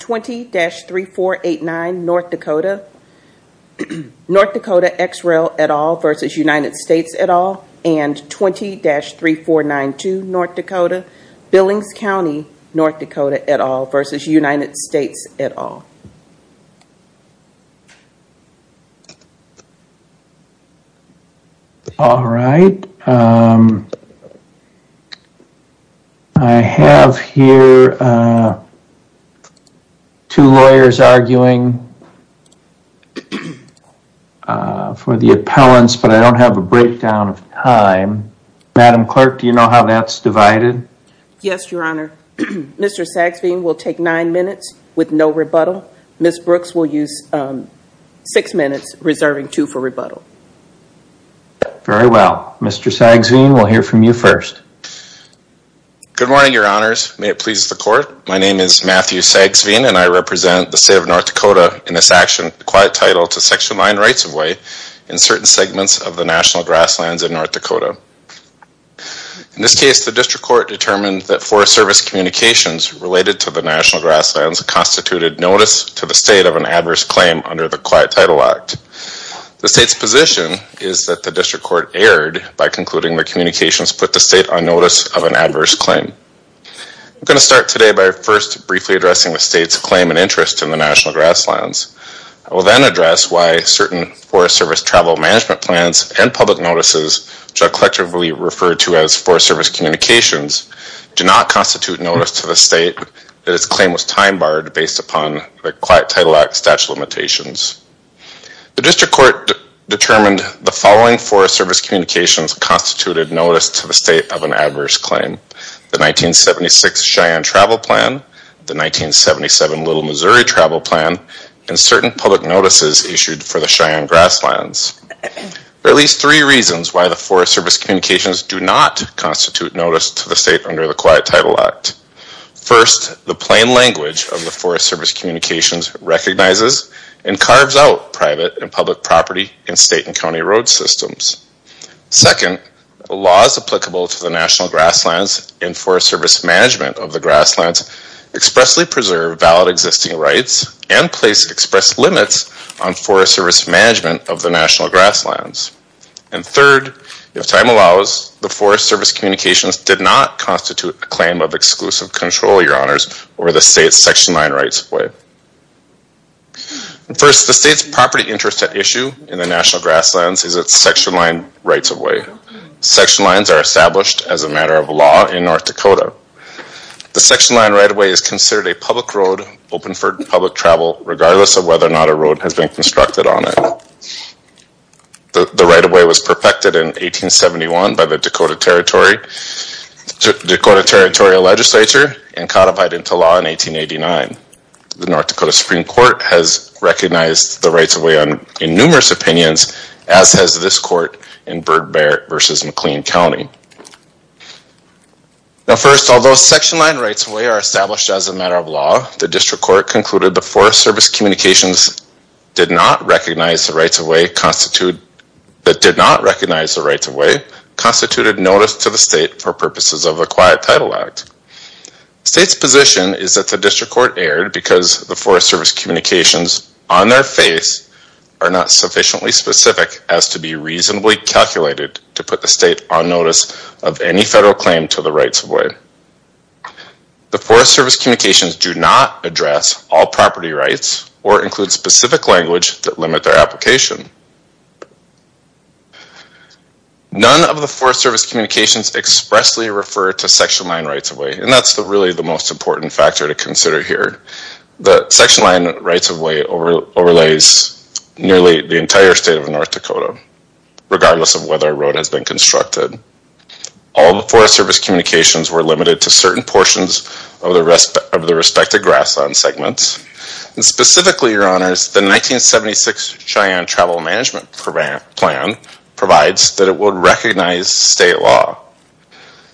20-3489 North Dakota, North Dakota XRail at all versus United States at all, and 20-3492 North Dakota, Billings County, North Dakota at all versus United States at all. All right, I have here two lawyers arguing for the appellants, but I don't have a breakdown of time. Madam Clerk, do you know how that's divided? Yes, your honor. Mr. Sagsveen will take nine minutes with no rebuttal. Ms. Brooks will use six minutes reserving two for rebuttal. Very well. Mr. Sagsveen, we'll hear from you first. Good morning, your honors. May it please the court. My name is Matthew Sagsveen and I represent the state of North Dakota in this action, quiet title to sexual mine rights of way in certain segments of the national grasslands in North Dakota. In this case, the district court determined that forest service communications related to the national grasslands constituted notice to the state of an adverse claim under the quiet title act. The state's position is that the district court erred by concluding the communications put the state on notice of an adverse claim. I'm going to start today by first briefly addressing the state's claim and interest in the management plans and public notices, which are collectively referred to as forest service communications, do not constitute notice to the state that its claim was time barred based upon the quiet title act statute limitations. The district court determined the following forest service communications constituted notice to the state of an adverse claim. The 1976 Cheyenne travel plan, the 1977 Little Missouri travel plan, and certain public notices issued for the Cheyenne grasslands. There are at least three reasons why the forest service communications do not constitute notice to the state under the quiet title act. First, the plain language of the forest service communications recognizes and carves out private and public property in state and county road systems. Second, laws applicable to the national grasslands and forest service management of the grasslands expressly preserve valid existing rights and express limits on forest service management of the national grasslands. Third, if time allows, the forest service communications did not constitute a claim of exclusive control, your honors, over the state's section line rights of way. First, the state's property interest at issue in the national grasslands is its section line rights of way. Section lines are established as a matter of law in North Dakota. The section line right of way is considered a public road open for public travel regardless of whether or not a road has been constructed on it. The right of way was perfected in 1871 by the Dakota Territorial Legislature and codified into law in 1889. The North Dakota Supreme Court has recognized the rights of way in numerous opinions as has this court in Bird Bear versus McLean County. Now first, although section line rights are established as a matter of law, the district court concluded the forest service communications did not recognize the rights of way constituted notice to the state for purposes of the Quiet Title Act. State's position is that the district court erred because the forest service communications on their face are not sufficiently specific as to be reasonably calculated to put the state on claim to the rights of way. The forest service communications do not address all property rights or include specific language that limit their application. None of the forest service communications expressly refer to section line rights of way and that's really the most important factor to consider here. The section line rights of way overlays nearly the entire state of North Dakota regardless of whether a road has been constructed. All the forest service communications were limited to certain portions of the respective grassland segments and specifically, your honors, the 1976 Cheyenne Travel Management Plan provides that it would recognize state law.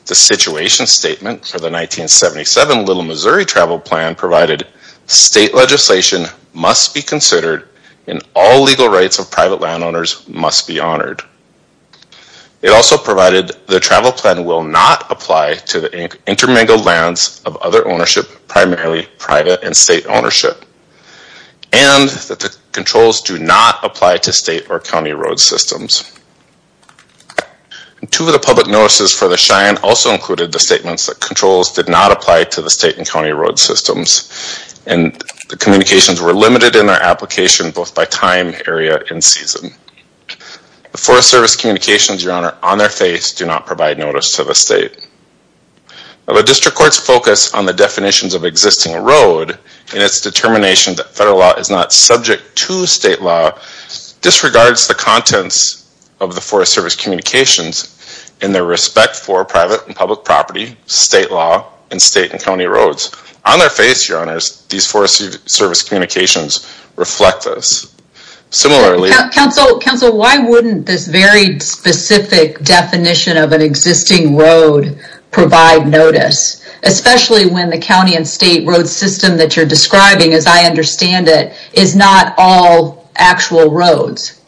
The situation statement for the 1977 Little Missouri Travel Plan provided state legislation must be considered and all legal rights of private landowners must be The travel plan will not apply to the intermingled lands of other ownership, primarily private and state ownership, and that the controls do not apply to state or county road systems. Two of the public notices for the Cheyenne also included the statements that controls did not apply to the state and county road systems and the communications were limited in their application both by time, area, and season. The forest service communications, your honor, on their face do not provide notice to the state. The district court's focus on the definitions of existing road and its determination that federal law is not subject to state law disregards the contents of the forest service communications in their respect for private and public property, state law, and state and Similarly, counsel, counsel, why wouldn't this very specific definition of an existing road provide notice, especially when the county and state road system that you're describing, as I understand it, is not all actual roads?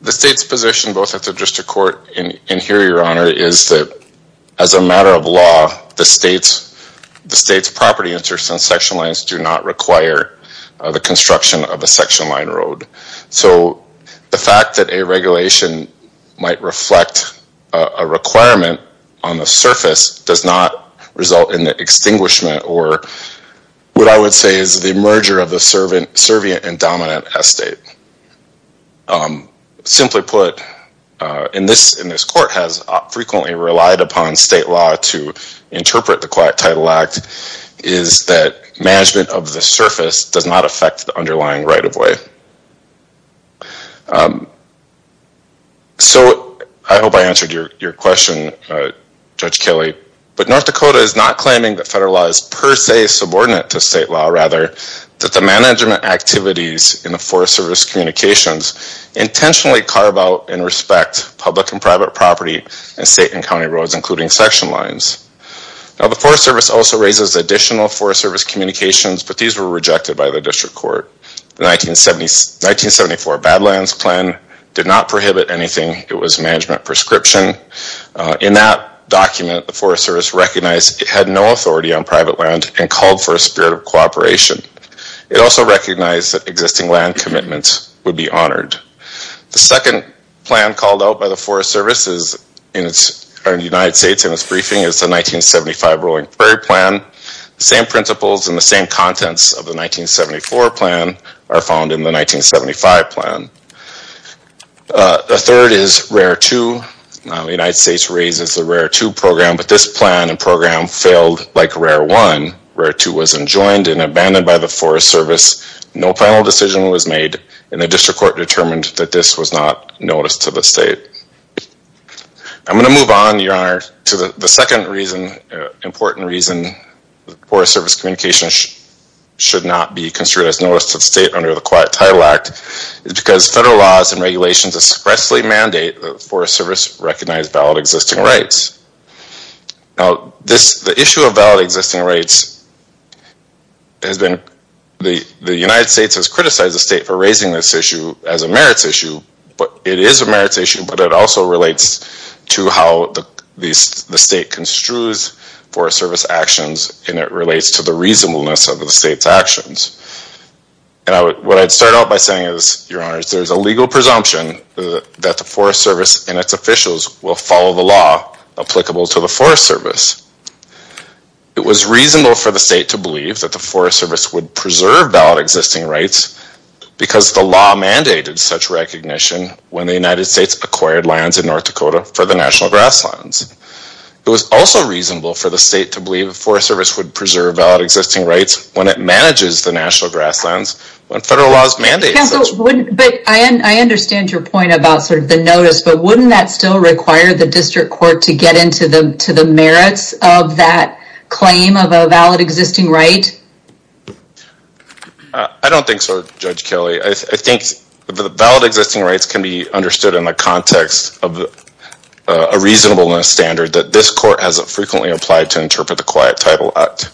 The state's position, both at the district court and here, your honor, is that as a matter of law, the state's, the state's property interests and of a section line road. So the fact that a regulation might reflect a requirement on the surface does not result in the extinguishment or what I would say is the merger of the servant, servient, and dominant estate. Simply put, in this, in this court has frequently relied upon state law to interpret the Quiet Title Act is that management of the surface does not affect the underlying right-of-way. So I hope I answered your question, Judge Kelly, but North Dakota is not claiming that federal law is per se subordinate to state law, rather, that the management activities in the forest service communications intentionally carve out and respect public and private property and state and county roads, including section lines. Now the Forest Service also raises additional Forest Service communications, but these were rejected by the district court. The 1970s, 1974 Badlands Plan did not prohibit anything. It was management prescription. In that document, the Forest Service recognized it had no authority on private land and called for a spirit of cooperation. It also recognized that existing land commitments would be honored. The second plan called out by the Forest Service is in its, or in the United States, in its briefing, is the 1975 Rolling Prairie Plan. The same principles and the 1974 plan are found in the 1975 plan. The third is RARE 2. The United States raises the RARE 2 program, but this plan and program failed like RARE 1. RARE 2 was enjoined and abandoned by the Forest Service. No final decision was made, and the district court determined that this was not noticed to the state. I'm going to move on, Your Honor, to the second reason, important reason, Forest Service communications should not be considered as noticed to the state under the Quiet Title Act is because federal laws and regulations expressly mandate that the Forest Service recognize valid existing rights. Now this, the issue of valid existing rights has been, the United States has criticized the state for raising this issue as a merits issue, but it is a merits issue, but it also relates to how the state construes Forest Service actions and it relates to the reasonableness of the state's actions. And what I'd start out by saying is, Your Honor, there's a legal presumption that the Forest Service and its officials will follow the law applicable to the Forest Service. It was reasonable for the state to believe that the Forest Service would preserve valid existing rights because the law mandated such recognition when the United States acquired lands in North Dakota for the National Grasslands. It was also reasonable for the state to believe the Forest Service would preserve valid existing rights when it manages the National Grasslands when federal laws mandate. But I understand your point about sort of the notice, but wouldn't that still require the district court to get into the merits of that claim of a valid existing right? I don't think so, Judge Kelly. I think the valid existing rights can be understood in the context of a reasonableness standard that this court hasn't frequently applied to interpret the Quiet Title Act.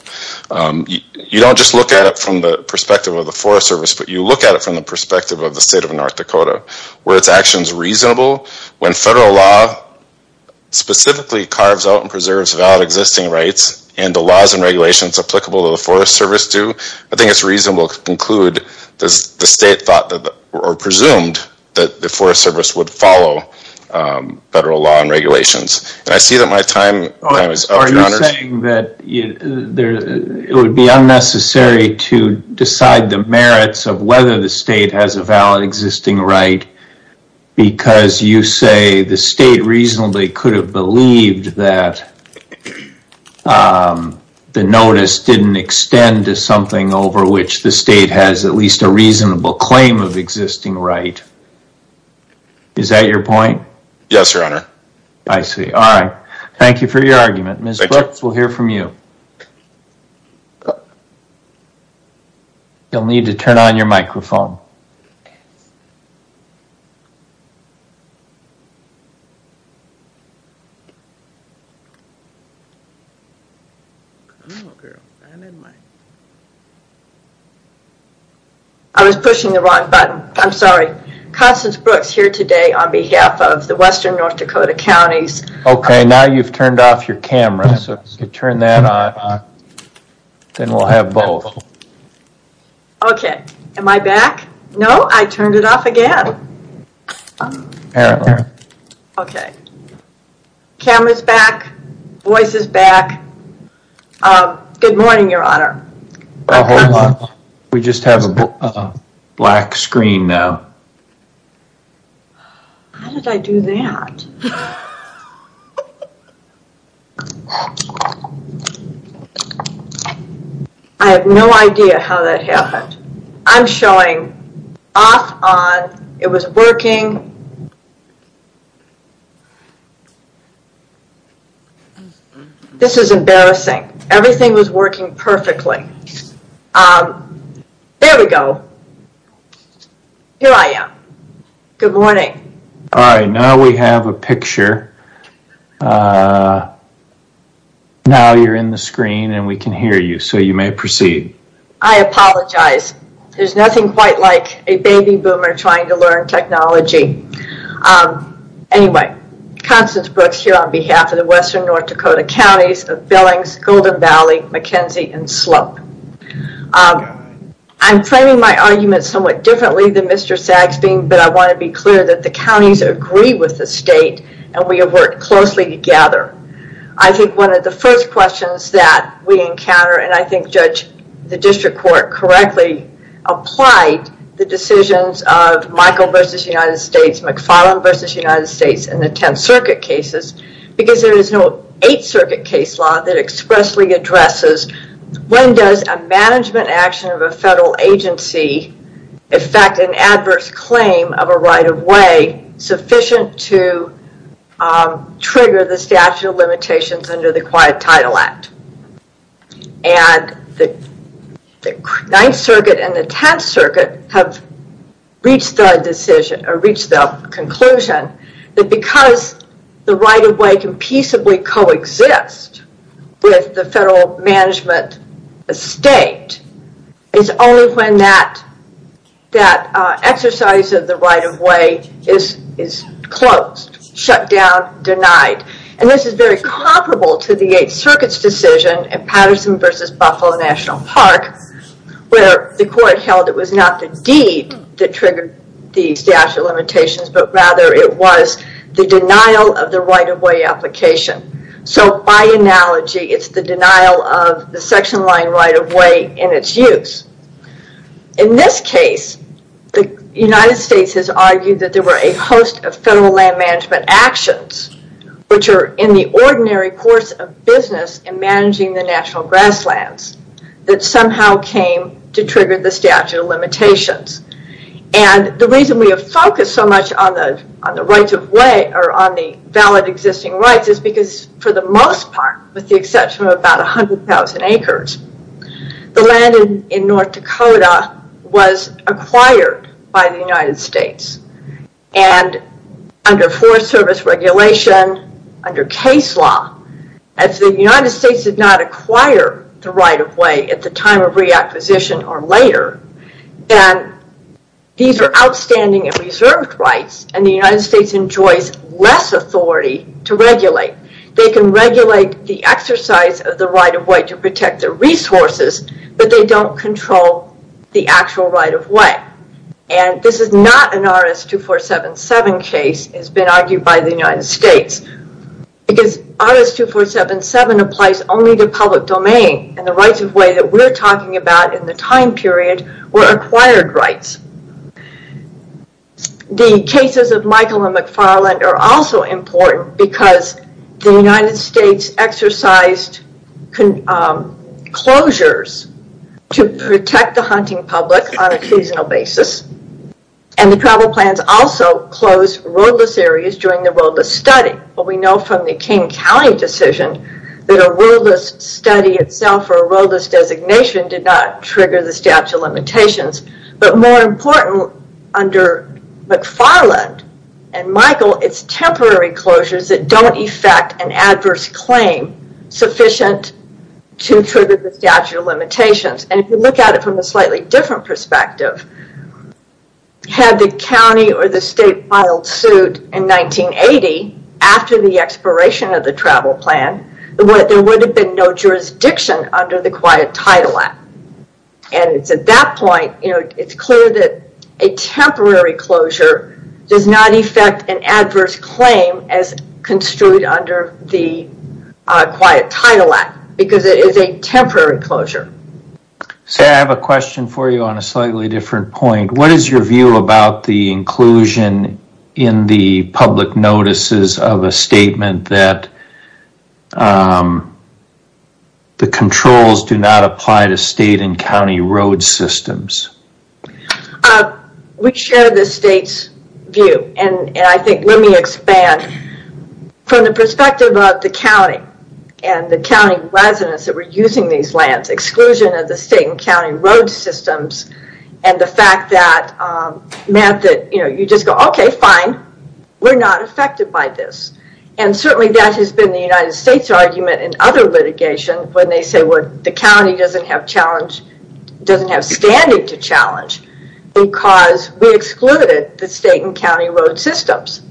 You don't just look at it from the perspective of the Forest Service, but you look at it from the perspective of the state of North Dakota where its actions reasonable when federal law specifically carves out and preserves valid existing rights and the laws and regulations applicable to the Forest Service do. I think it's reasonable to conclude that the state thought or presumed that the Forest Service would follow federal law and regulations. And I see that my time is up. Are you saying that it would be unnecessary to decide the merits of whether the state has a valid existing right because you say the state reasonably could have believed that the notice didn't extend to something over which the state has at least a reasonable claim of right? Is that your point? Yes, Your Honor. I see. All right. Thank you for your argument. Ms. Brooks, we'll hear from you. You'll need to turn on your microphone. I was pushing the wrong button. I'm sorry. Constance Brooks here today on behalf of the Western North Dakota counties. Okay, now you've turned off your camera, so if you turn that on then we'll have both. Okay, am I back? No, I turned it off again. Okay, camera's back, voice is back. Good morning, Your Honor. We just have a black screen now. How did I do that? I have no idea how that happened. I'm showing off, on, it was working. This is embarrassing. Everything was working perfectly. There we go. Here I am. Good morning. All right, now we have a picture. Now you're in the screen and we can hear you, so you may proceed. I apologize. There's nothing quite like a baby boomer trying to learn technology. Anyway, Constance Brooks here on behalf of the Western North Dakota counties of Billings, Golden Valley, McKenzie, and Slope. I'm framing my argument somewhat differently than Mr. Saxbeam, but I want to be clear that the counties agree with the state and we have worked closely together. I think one of the first questions that we encounter, and I think Judge, the District Court, correctly applied the decisions of Michael versus United States, McFarland versus United States in the 10th Circuit cases, because there is no 8th Circuit case law that expressly addresses when does a management action of a federal agency affect an adverse claim of a right-of-way sufficient to trigger the statute of limitations under the Quiet Title Act. The 9th Circuit and the 10th Circuit have reached the conclusion that because the right-of-way can peaceably coexist with the federal management estate, it's only when that exercise of the right-of-way is closed, shut down, denied. This is very comparable to the 8th Circuit's decision in Patterson versus Buffalo National Park, where the court held it was not the deed that triggered the statute of limitations, but rather it was the denial of the right-of-way application. By analogy, it's the denial of the section line right-of-way and its use. In this case, the United States has argued that there were a host of federal land management actions, which are in the ordinary course of business in managing the national grasslands, that somehow came to trigger the statute of limitations. The reason we have focused so much on the right-of-way or on the valid existing rights is because for the most part, with the exception of about 100,000 acres, the land in North Dakota was acquired by the United States. Under Forest Service regulation, under case law, if the United States did not acquire the right-of-way at the time of reacquisition or later, then these are outstanding and reserved rights, and the United States enjoys less authority to regulate. They can regulate the exercise of the right-of-way to protect their resources, but they don't control the actual right-of-way. This is not an RS-2477 case that has been argued by the United States, because RS-2477 applies only to public domain, and the rights-of-way that we're talking about in the time period were acquired rights. The cases of Michael and McFarland are also important because the United States exercised closures to protect the hunting public on a seasonal basis, and the travel plans also closed roadless areas during the roadless study. We know from the King County decision that a roadless study itself or a roadless designation did not trigger the statute of limitations, but more important, under McFarland and Michael, it's temporary closures that don't effect an adverse claim sufficient to trigger the statute of limitations. If you look at it from a slightly different perspective, had the county or the state filed suit in 1980 after the expiration of the travel plan, there would have been no jurisdiction under the Quiet Title Act. At that point, it's clear that a temporary closure does not effect an adverse claim as construed under the Quiet Title Act, because it is a temporary closure. Sarah, I have a question for you on a slightly different point. What is your view about the fact that the controls do not apply to state and county road systems? We share the state's view, and I think, let me expand. From the perspective of the county and the county residents that were using these lands, exclusion of the state and county road systems, and the fact that you just go, okay, fine, we're not affected by this. Certainly, that has been the United States' argument in other litigation, when they say, the county doesn't have standing to challenge, because we excluded the state and county road systems,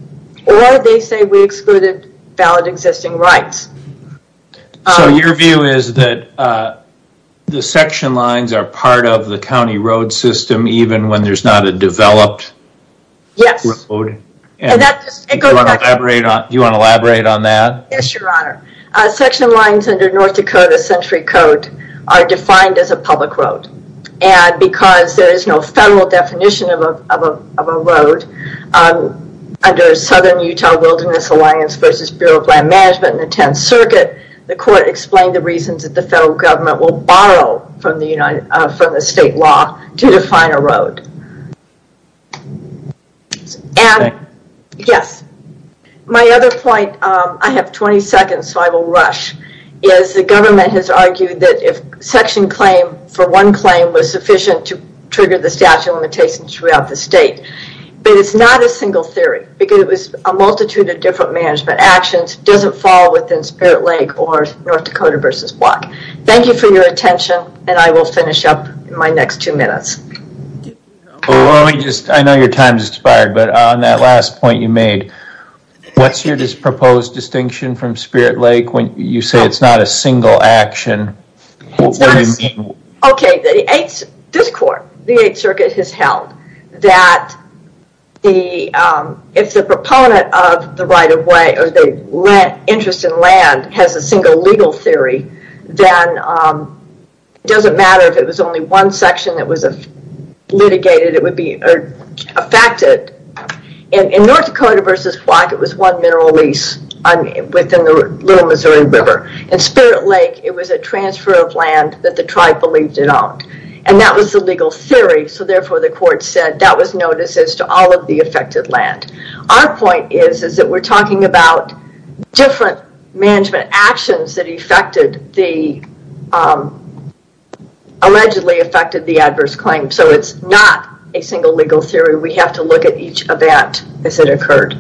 or they say we excluded valid existing rights. Your view is that the section lines are that? Yes, Your Honor. Section lines under North Dakota Century Code are defined as a public road. Because there is no federal definition of a road, under Southern Utah Wilderness Alliance versus Bureau of Land Management in the 10th Circuit, the court explained the reasons that the federal government will borrow from the state law to define a road. Okay. Yes. My other point, I have 20 seconds, so I will rush, is the government has argued that if section claim for one claim was sufficient to trigger the statute of limitations throughout the state, but it's not a single theory, because it was a multitude of different management actions, doesn't fall within Spirit Lake or North Dakota versus Block. Thank you for your attention, and I will finish up in my next two minutes. I know your time has expired, but on that last point you made, what's your proposed distinction from Spirit Lake when you say it's not a single action? Okay, this court, the 8th Circuit has held that if the proponent of the right of way, interest in land has a single legal theory, then it doesn't matter if it was only one section that was litigated, it would be affected. In North Dakota versus Block, it was one mineral lease within the Little Missouri River. In Spirit Lake, it was a transfer of land that the tribe believed it owned, and that was the legal theory, so therefore the court said that was noticed as to all of the affected land. Our point is, is that we're talking about different management actions that allegedly affected the adverse claim, so it's not a single legal theory, we have to look at each event as it occurred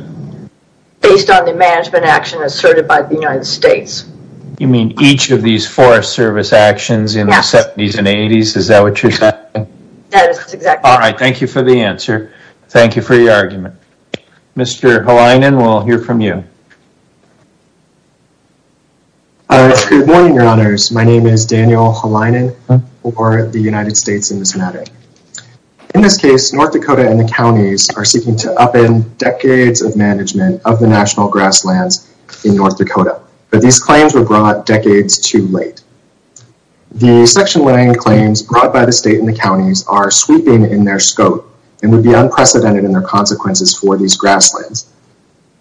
based on the management action asserted by the United States. You mean each of these Forest Service actions in the 70s and 80s, is that what you're saying? Yes, exactly. All right, thank you for the answer, thank you for your argument. Mr. Halinan, we'll hear from you. Good morning, your honors, my name is Daniel Halinan for the United States and this matter. In this case, North Dakota and the counties are seeking to upend decades of management of the national grasslands in North Dakota, but these claims were brought decades too late. The section line claims brought by the state and the counties are sweeping in their scope and would be unprecedented in their consequences for these grasslands.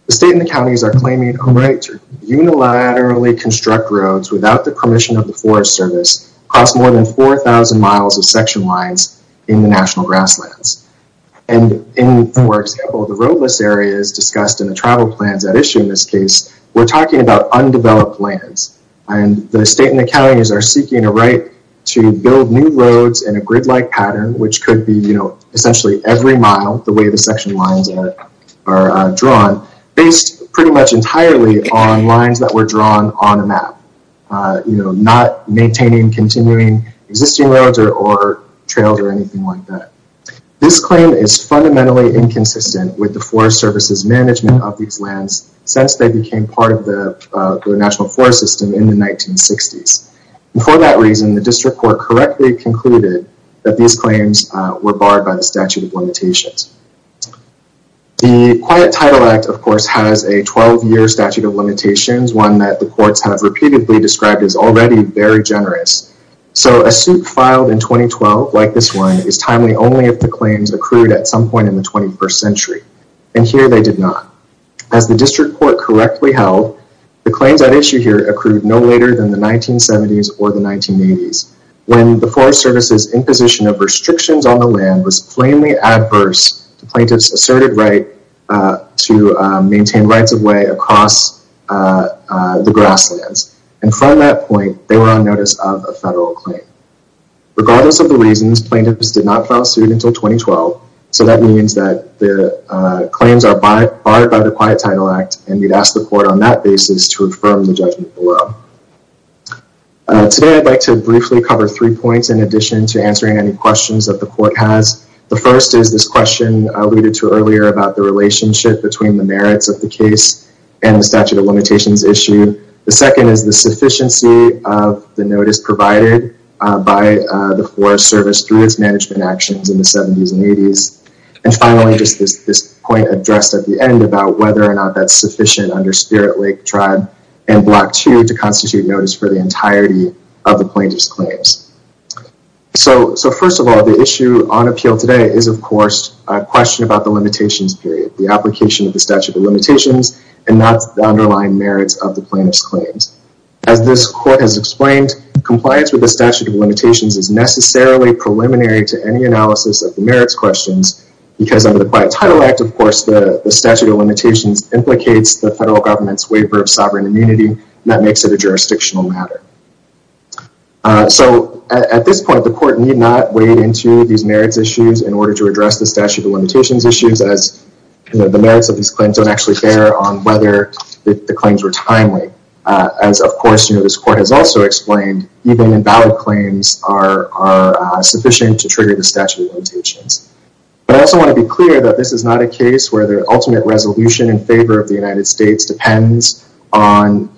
The state and the counties are claiming a right to unilaterally construct roads without the permission of the Forest Service across more than 4,000 miles of section lines in the national grasslands. And in, for example, the roadless areas discussed in the travel plans at issue in this case, we're talking about undeveloped lands. And the state and the counties are seeking a right to build new roads in a grid-like pattern, which could be, you know, essentially every mile, the way the section lines are drawn, based pretty much entirely on lines that were drawn on a map, you know, not maintaining continuing existing roads or trails or anything like that. This claim is fundamentally inconsistent with Forest Service's management of these lands since they became part of the national forest system in the 1960s. And for that reason, the district court correctly concluded that these claims were barred by the statute of limitations. The Quiet Title Act, of course, has a 12-year statute of limitations, one that the courts have repeatedly described as already very generous. So a suit filed in 2012 like this one is timely only if the claims accrued at some point in the 21st century. And here they did not. As the district court correctly held, the claims at issue here accrued no later than the 1970s or the 1980s, when the Forest Service's imposition of restrictions on the land was plainly adverse to plaintiffs' asserted right to maintain rights of way across the grasslands. And from that point, they were on notice of a federal claim. Regardless of the reasons, plaintiffs did not file suit until 2012. So that means that the claims are barred by the Quiet Title Act, and we'd ask the court on that basis to affirm the judgment below. Today, I'd like to briefly cover three points in addition to answering any questions that the court has. The first is this question alluded to earlier about the relationship between the merits of the case and the statute of limitations issue. The second is the sufficiency of the notice provided by the Forest Service through its management actions in the 70s and 80s. And finally, just this point addressed at the end about whether or not that's sufficient under Spirit Lake Tribe and Block 2 to constitute notice for the entirety of the plaintiff's claims. So first of all, the issue on appeal today is, of course, a question about the limitations period, the application of the statute of limitations, and not the underlying merits of the plaintiff's claim. Compliance with the statute of limitations is necessarily preliminary to any analysis of the merits questions because under the Quiet Title Act, of course, the statute of limitations implicates the federal government's waiver of sovereign immunity, and that makes it a jurisdictional matter. So at this point, the court need not wade into these merits issues in order to address the statute of limitations issues as the merits of these claims don't actually bear on whether the claims were timely. As, of course, this court has also explained, even invalid claims are sufficient to trigger the statute of limitations. But I also want to be clear that this is not a case where the ultimate resolution in favor of the United States depends on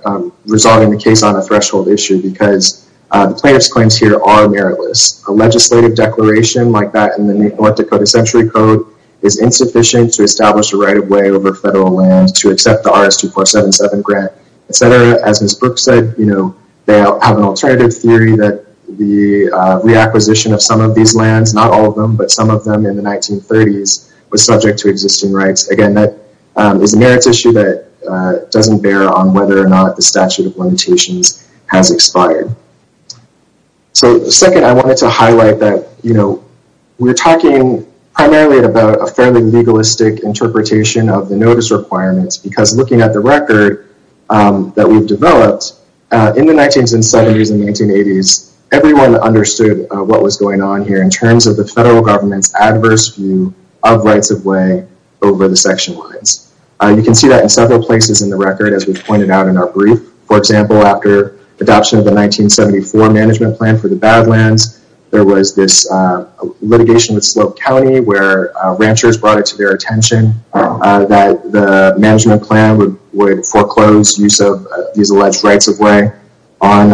resolving the case on a threshold issue because plaintiff's claims here are meritless. A legislative declaration like that in the North Dakota Century Code is insufficient to establish a right of way over federal land to accept the RS-2477 grant, etc. As Ms. Brooks said, they have an alternative theory that the reacquisition of some of these lands, not all of them, but some of them in the 1930s, was subject to existing rights. Again, that is a merits issue that doesn't bear on whether or not the statute of limitations has expired. So second, I wanted to highlight that we're talking primarily about a fairly legalistic interpretation of the notice requirements because looking at the record that we've developed, in the 1970s and 1980s, everyone understood what was going on here in terms of the federal government's adverse view of rights of way over the section lines. You can see that in several places in the record, as we've pointed out in our brief. For example, after adoption of the 1974 management plan for the Badlands, there was this litigation with Slope County where ranchers brought it to their attention that the management plan would foreclose use of these alleged rights of way on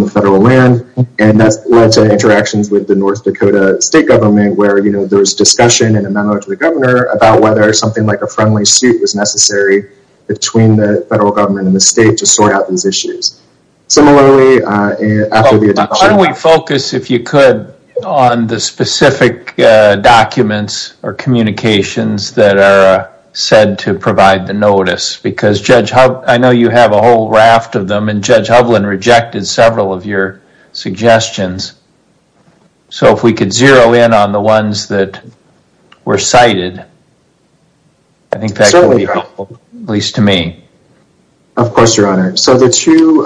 the federal land, and that's led to interactions with the North Dakota state government where there was discussion and a memo to the governor about whether something like a friendly suit was necessary between the federal government and the state to sort out these issues. Similarly, after the adoption... Can we focus, if you could, on the specific documents or communications that are said to provide the notice? I know you have a whole raft of them, and Judge Hublin rejected several of your suggestions. So if we could zero in on the ones that were cited, I think that could be helpful, at least to me. Of course, your honor. So the two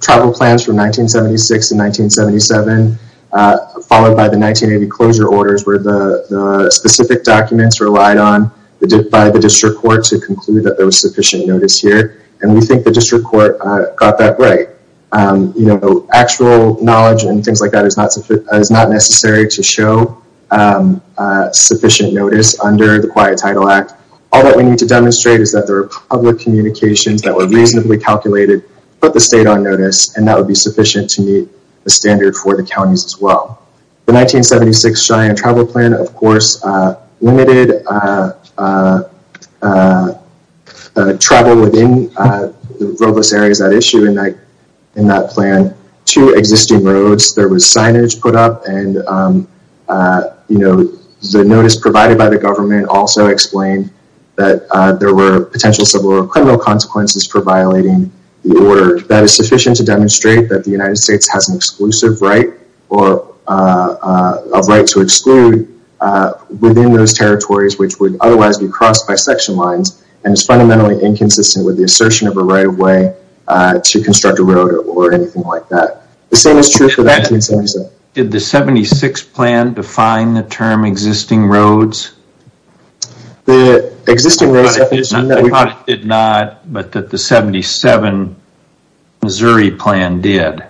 travel plans from 1976 and 1977, followed by the 1980 closure orders were the specific documents relied on by the district court to conclude that there was sufficient notice here, and we think the district court got that right. You know, actual knowledge and things like that is not necessary to show sufficient notice under the Quiet Title Act. All that we need to demonstrate is that there are public communications that were reasonably calculated, put the state on notice, and that would be sufficient to meet the standard for the counties as well. The 1976 Cheyenne travel plan, of course, limited travel within the robust areas at issue in that plan to existing roads. There was signage put up, and the notice provided by the government also explained that there were potential civil or criminal consequences for violating the order. That is sufficient to demonstrate that the United States has an exclusive right or a right to exclude within those territories, which would otherwise be crossed by section lines, and is fundamentally inconsistent with the assertion of a right of way to construct a road or anything like that. The same is true for 1977. Did the 76 plan define the term existing roads? The existing roads definition did not, but that the 77 Missouri plan did.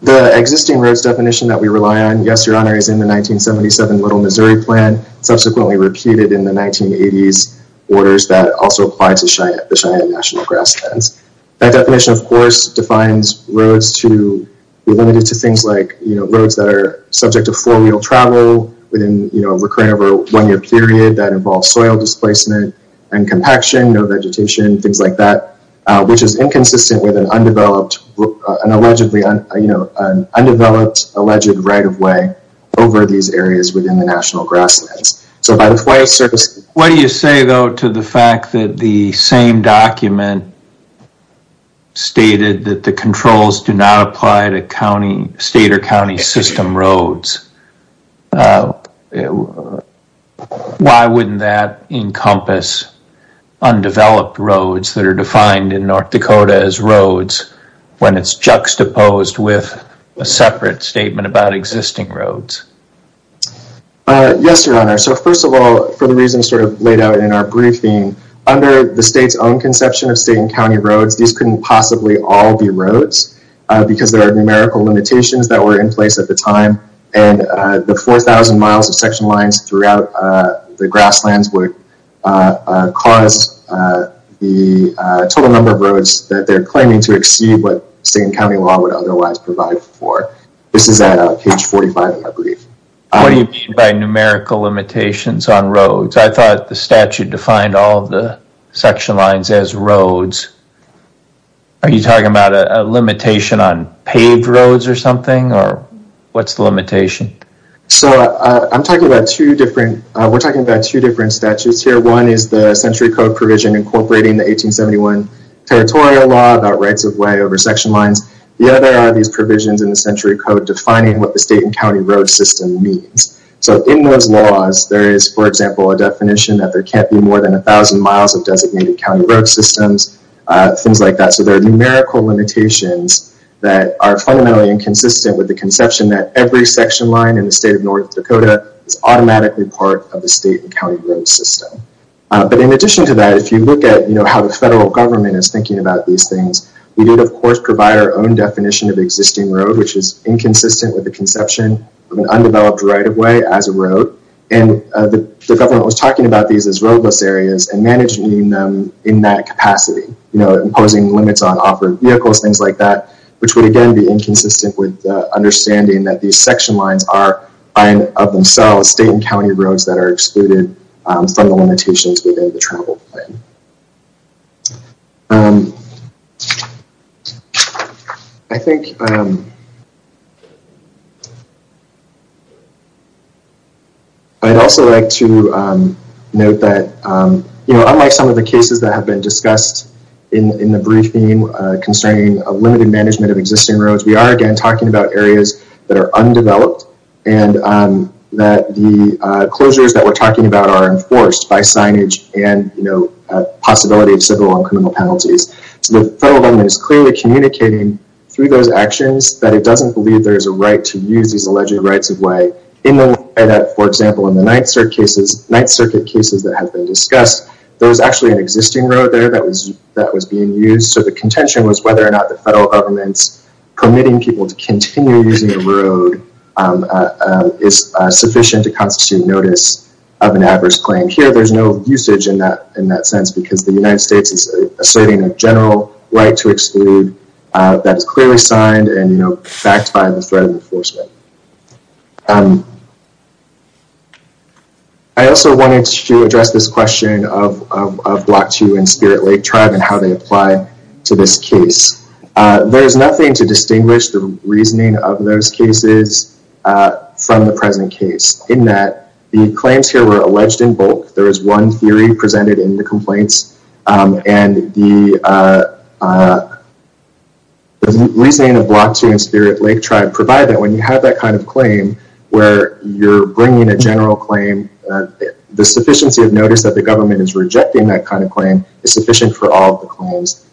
The existing roads definition that we rely on, yes, your honor, is in the 1977 Little Missouri plan, subsequently repeated in the 1980s orders that also applied to Cheyenne National Grasslands. That definition, of course, defines roads to be limited to things like roads that are subject to four-wheel travel within a recurring over a one-year period that involves soil displacement and compaction, no vegetation, things like that, which is inconsistent with an undeveloped alleged right of way over these areas within the National Grasslands. So by the way, sir, what do you say, though, to the fact that the same document stated that the controls do not apply to county state or county system roads? Why wouldn't that encompass undeveloped roads that are defined in North Dakota as roads when it's juxtaposed with a separate statement about existing roads? Yes, your honor. So first of all, for the reasons sort of laid out in our briefing, under the state's own conception of state and county roads, these couldn't possibly all be roads because there are numerical limitations that were in place at the time. And the 4,000 miles of section lines throughout the grasslands would cause the total number of roads that they're claiming to exceed what state and county law would otherwise provide for. This is at page 45, I believe. What do you mean by numerical limitations on roads? I thought the statute defined all the section lines as roads. Are you talking about a limitation on paved roads or something, or what's the limitation? So I'm talking about two different, we're talking about two different statutes here. One is the Century Code provision incorporating the 1871 Territorial Law about rights of way over section lines. The other are these provisions in the Century Code defining what the state and county road system means. So in those laws, there is, for example, a definition that there can't be more than 1,000 miles of designated county road systems, things like that. So there are numerical limitations that are fundamentally inconsistent with the conception that every section line in the state of North Dakota is automatically part of the state and county road system. But in addition to that, if you look at how the federal government is thinking about these things, we did, of course, provide our own definition of existing road, which is inconsistent with the conception of an undeveloped right of way as a road. And the government was talking about these as roadless areas and managing them in that capacity, imposing limits on off-road vehicles, things like that, which would, again, be inconsistent with understanding that these section lines are, by and of themselves, state and county roads that are excluded from the limitations within the travel plan. I'd also like to note that unlike some of the cases that have been discussed in the briefing concerning limited management of existing roads, we are, again, talking about areas that are undeveloped and that the closures that we're talking about are enforced by signage and possibility of civil and criminal penalties. So the federal government is clearly communicating through those actions that it doesn't believe there's a right to use these alleged rights of way in the way that, for example, in the Ninth Circuit cases that have been discussed, there was actually an existing road there that was being used. So the contention was whether or not the federal government's permitting people to have an adverse claim. Here, there's no usage in that sense because the United States is asserting a general right to exclude that is clearly signed and backed by the threat of enforcement. I also wanted to address this question of Block 2 and Spirit Lake Tribe and how they apply to this case. There is nothing to distinguish the reasoning of those cases from the present case in that the claims here were alleged in bulk. There is one theory presented in the complaints and the reasoning of Block 2 and Spirit Lake Tribe provide that when you have that kind of claim where you're bringing a general claim, the sufficiency of notice that the government is rejecting that kind of claim is sufficient for all of the claims.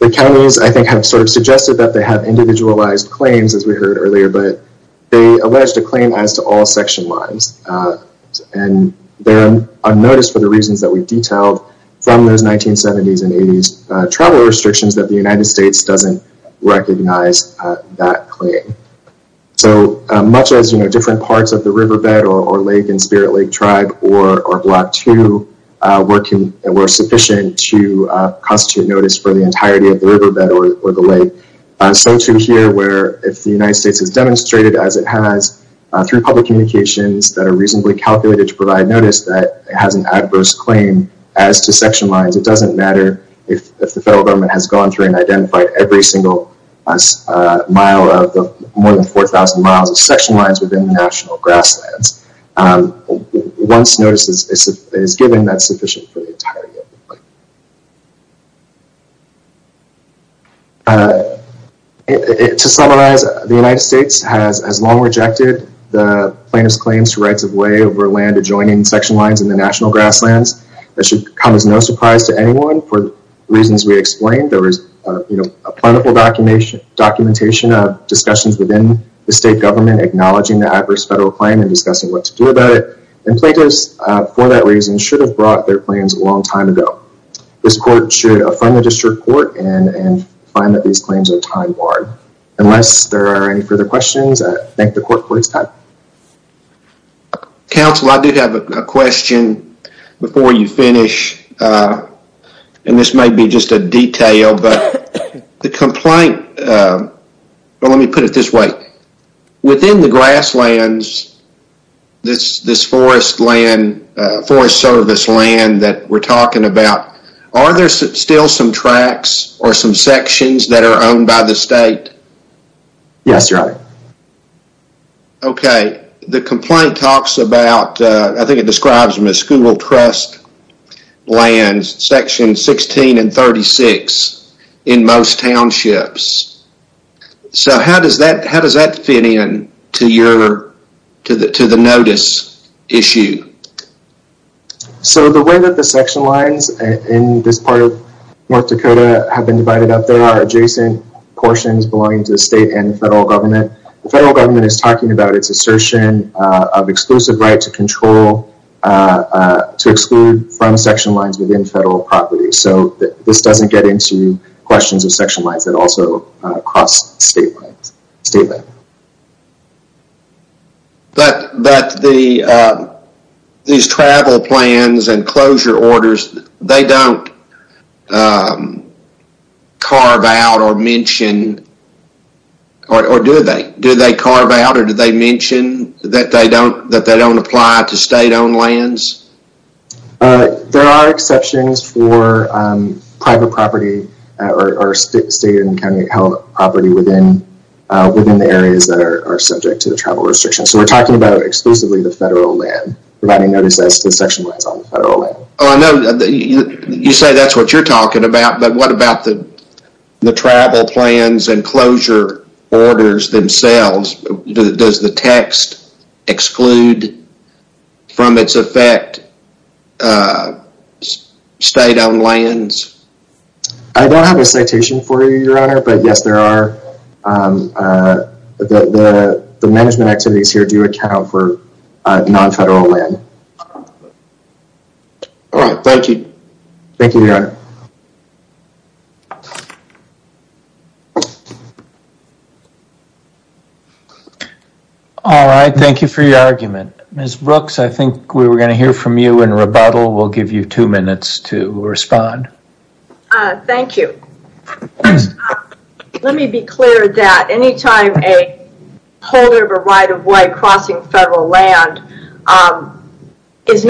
The counties, I think, have sort of suggested that they have individualized claims as we heard earlier, but they alleged a claim as to all section lines. They're unnoticed for the reasons that we detailed from those 1970s and 80s travel restrictions that the United States doesn't recognize that claim. So much as different parts of the riverbed or lake in Spirit Lake Tribe or Block 2 were sufficient to constitute notice for the entirety of the riverbed or the lake, so too here where if the United States has demonstrated as it has through public communications that are reasonably calculated to provide notice that it has an adverse claim as to section lines, it doesn't matter if the federal government has gone through and identified every single mile of the more than 4,000 miles of national grasslands. Once notice is given, that's sufficient for the entirety of the claim. To summarize, the United States has long rejected the plaintiff's claims to rights of way over land adjoining section lines in the national grasslands. That should come as no surprise to anyone. For reasons we explained, there was a plentiful documentation of discussions within the state government acknowledging the adverse federal claim and discussing what to do about it, and plaintiffs for that reason should have brought their claims a long time ago. This court should affirm the district court and find that these claims are time-barred. Unless there are any further questions, I thank the court for its time. Counsel, I do have a question before you finish, and this may be just a detail, but the complaint, but let me put it this way. Within the grasslands, this forest land, forest service land that we're talking about, are there still some tracks or some sections that are owned by the state? Yes, your honor. Okay, the complaint talks about, I think it describes trust lands section 16 and 36 in most townships, so how does that fit in to the notice issue? The way that the section lines in this part of North Dakota have been divided up, there are adjacent portions belonging to the state and federal government. The federal government is talking about its assertion of exclusive right to exclude from section lines within federal property, so this doesn't get into questions of section lines that also cross state lines. But these travel plans and closure orders, they don't carve out or mention, or do they? Do they carve out or do they mention that they don't apply to state-owned lands? There are exceptions for private property or state and county-held property within the areas that are subject to the travel restrictions, so we're talking about exclusively the federal land, providing notice as to section lines on the federal land. Oh, I know you say that's what you're talking about, but what about the travel plans and closure orders themselves? Does the text exclude from its effect state-owned lands? I don't have a citation for you, your honor, but yes, there are. The management activities here do account for non-federal land. All right, thank you. Thank you, your honor. All right, thank you for your argument. Ms. Brooks, I think we were going to hear from you in rebuttal. We'll give you two minutes to respond. Thank you. Let me be clear that anytime a holder of a right-of-way crossing federal land has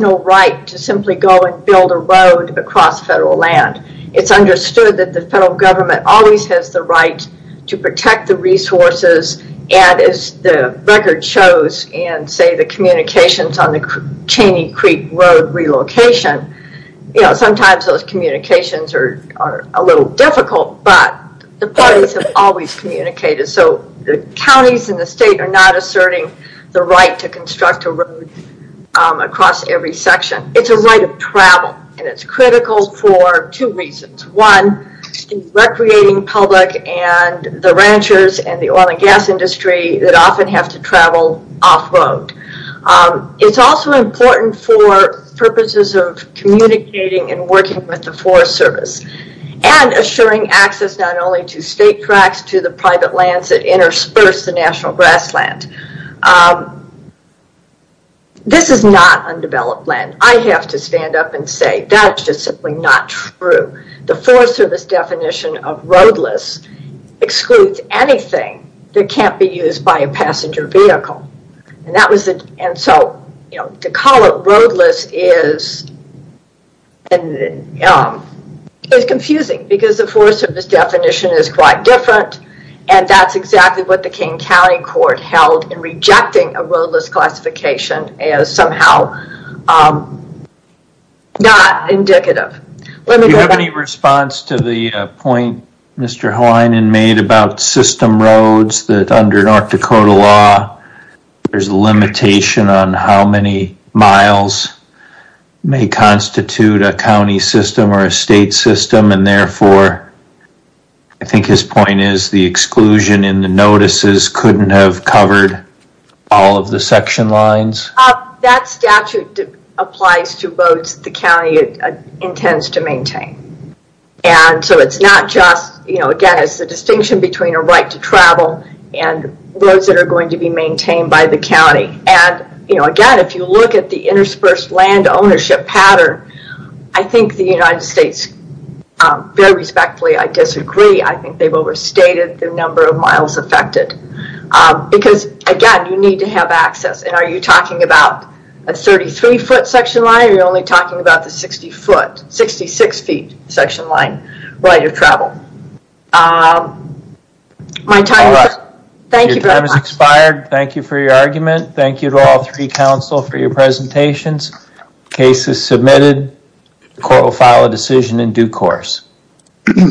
no right to simply go and build a road across federal land, it's understood that the federal government always has the right to protect the resources, and as the record shows in, say, the communications on the Cheney Creek Road relocation, sometimes those communications are a little difficult, but the parties have always communicated. The counties and the state are not asserting the right to construct a road across every section. It's a right of travel, and it's critical for two reasons. One, in recreating public and the ranchers and the oil and gas industry that often have to travel off-road. It's also important for purposes of communicating and working with the Forest Service, and assuring access not only to state tracks, to the private lands that intersperse the national grassland. This is not undeveloped land. I have to stand up and say, that's just simply not true. The Forest Service definition of roadless excludes anything that can't be used by a county. It's confusing, because the Forest Service definition is quite different, and that's exactly what the King County Court held in rejecting a roadless classification as somehow not indicative. Let me go back- Do you have any response to the point Mr. Halinan made about system roads, that under North Dakota law, there's a limitation on how many miles may constitute a county system or a state system, and therefore, I think his point is the exclusion in the notices couldn't have covered all of the section lines? That statute applies to roads the county intends to maintain. It's not just, again, it's a distinction between a right to travel and roads that are going to be maintained by the county. Again, if you look at the interspersed land ownership pattern, I think the United States, very respectfully, I disagree. I think they've overstated the number of miles affected, because again, you need to have access. Are you talking about a 33-foot section line, or are you only talking about the 60-foot, 66-feet section line right of travel? All right. Your time has expired. Thank you for your argument. Thank you to all three counsel for your presentations. Case is submitted. Court will file a decision in due course.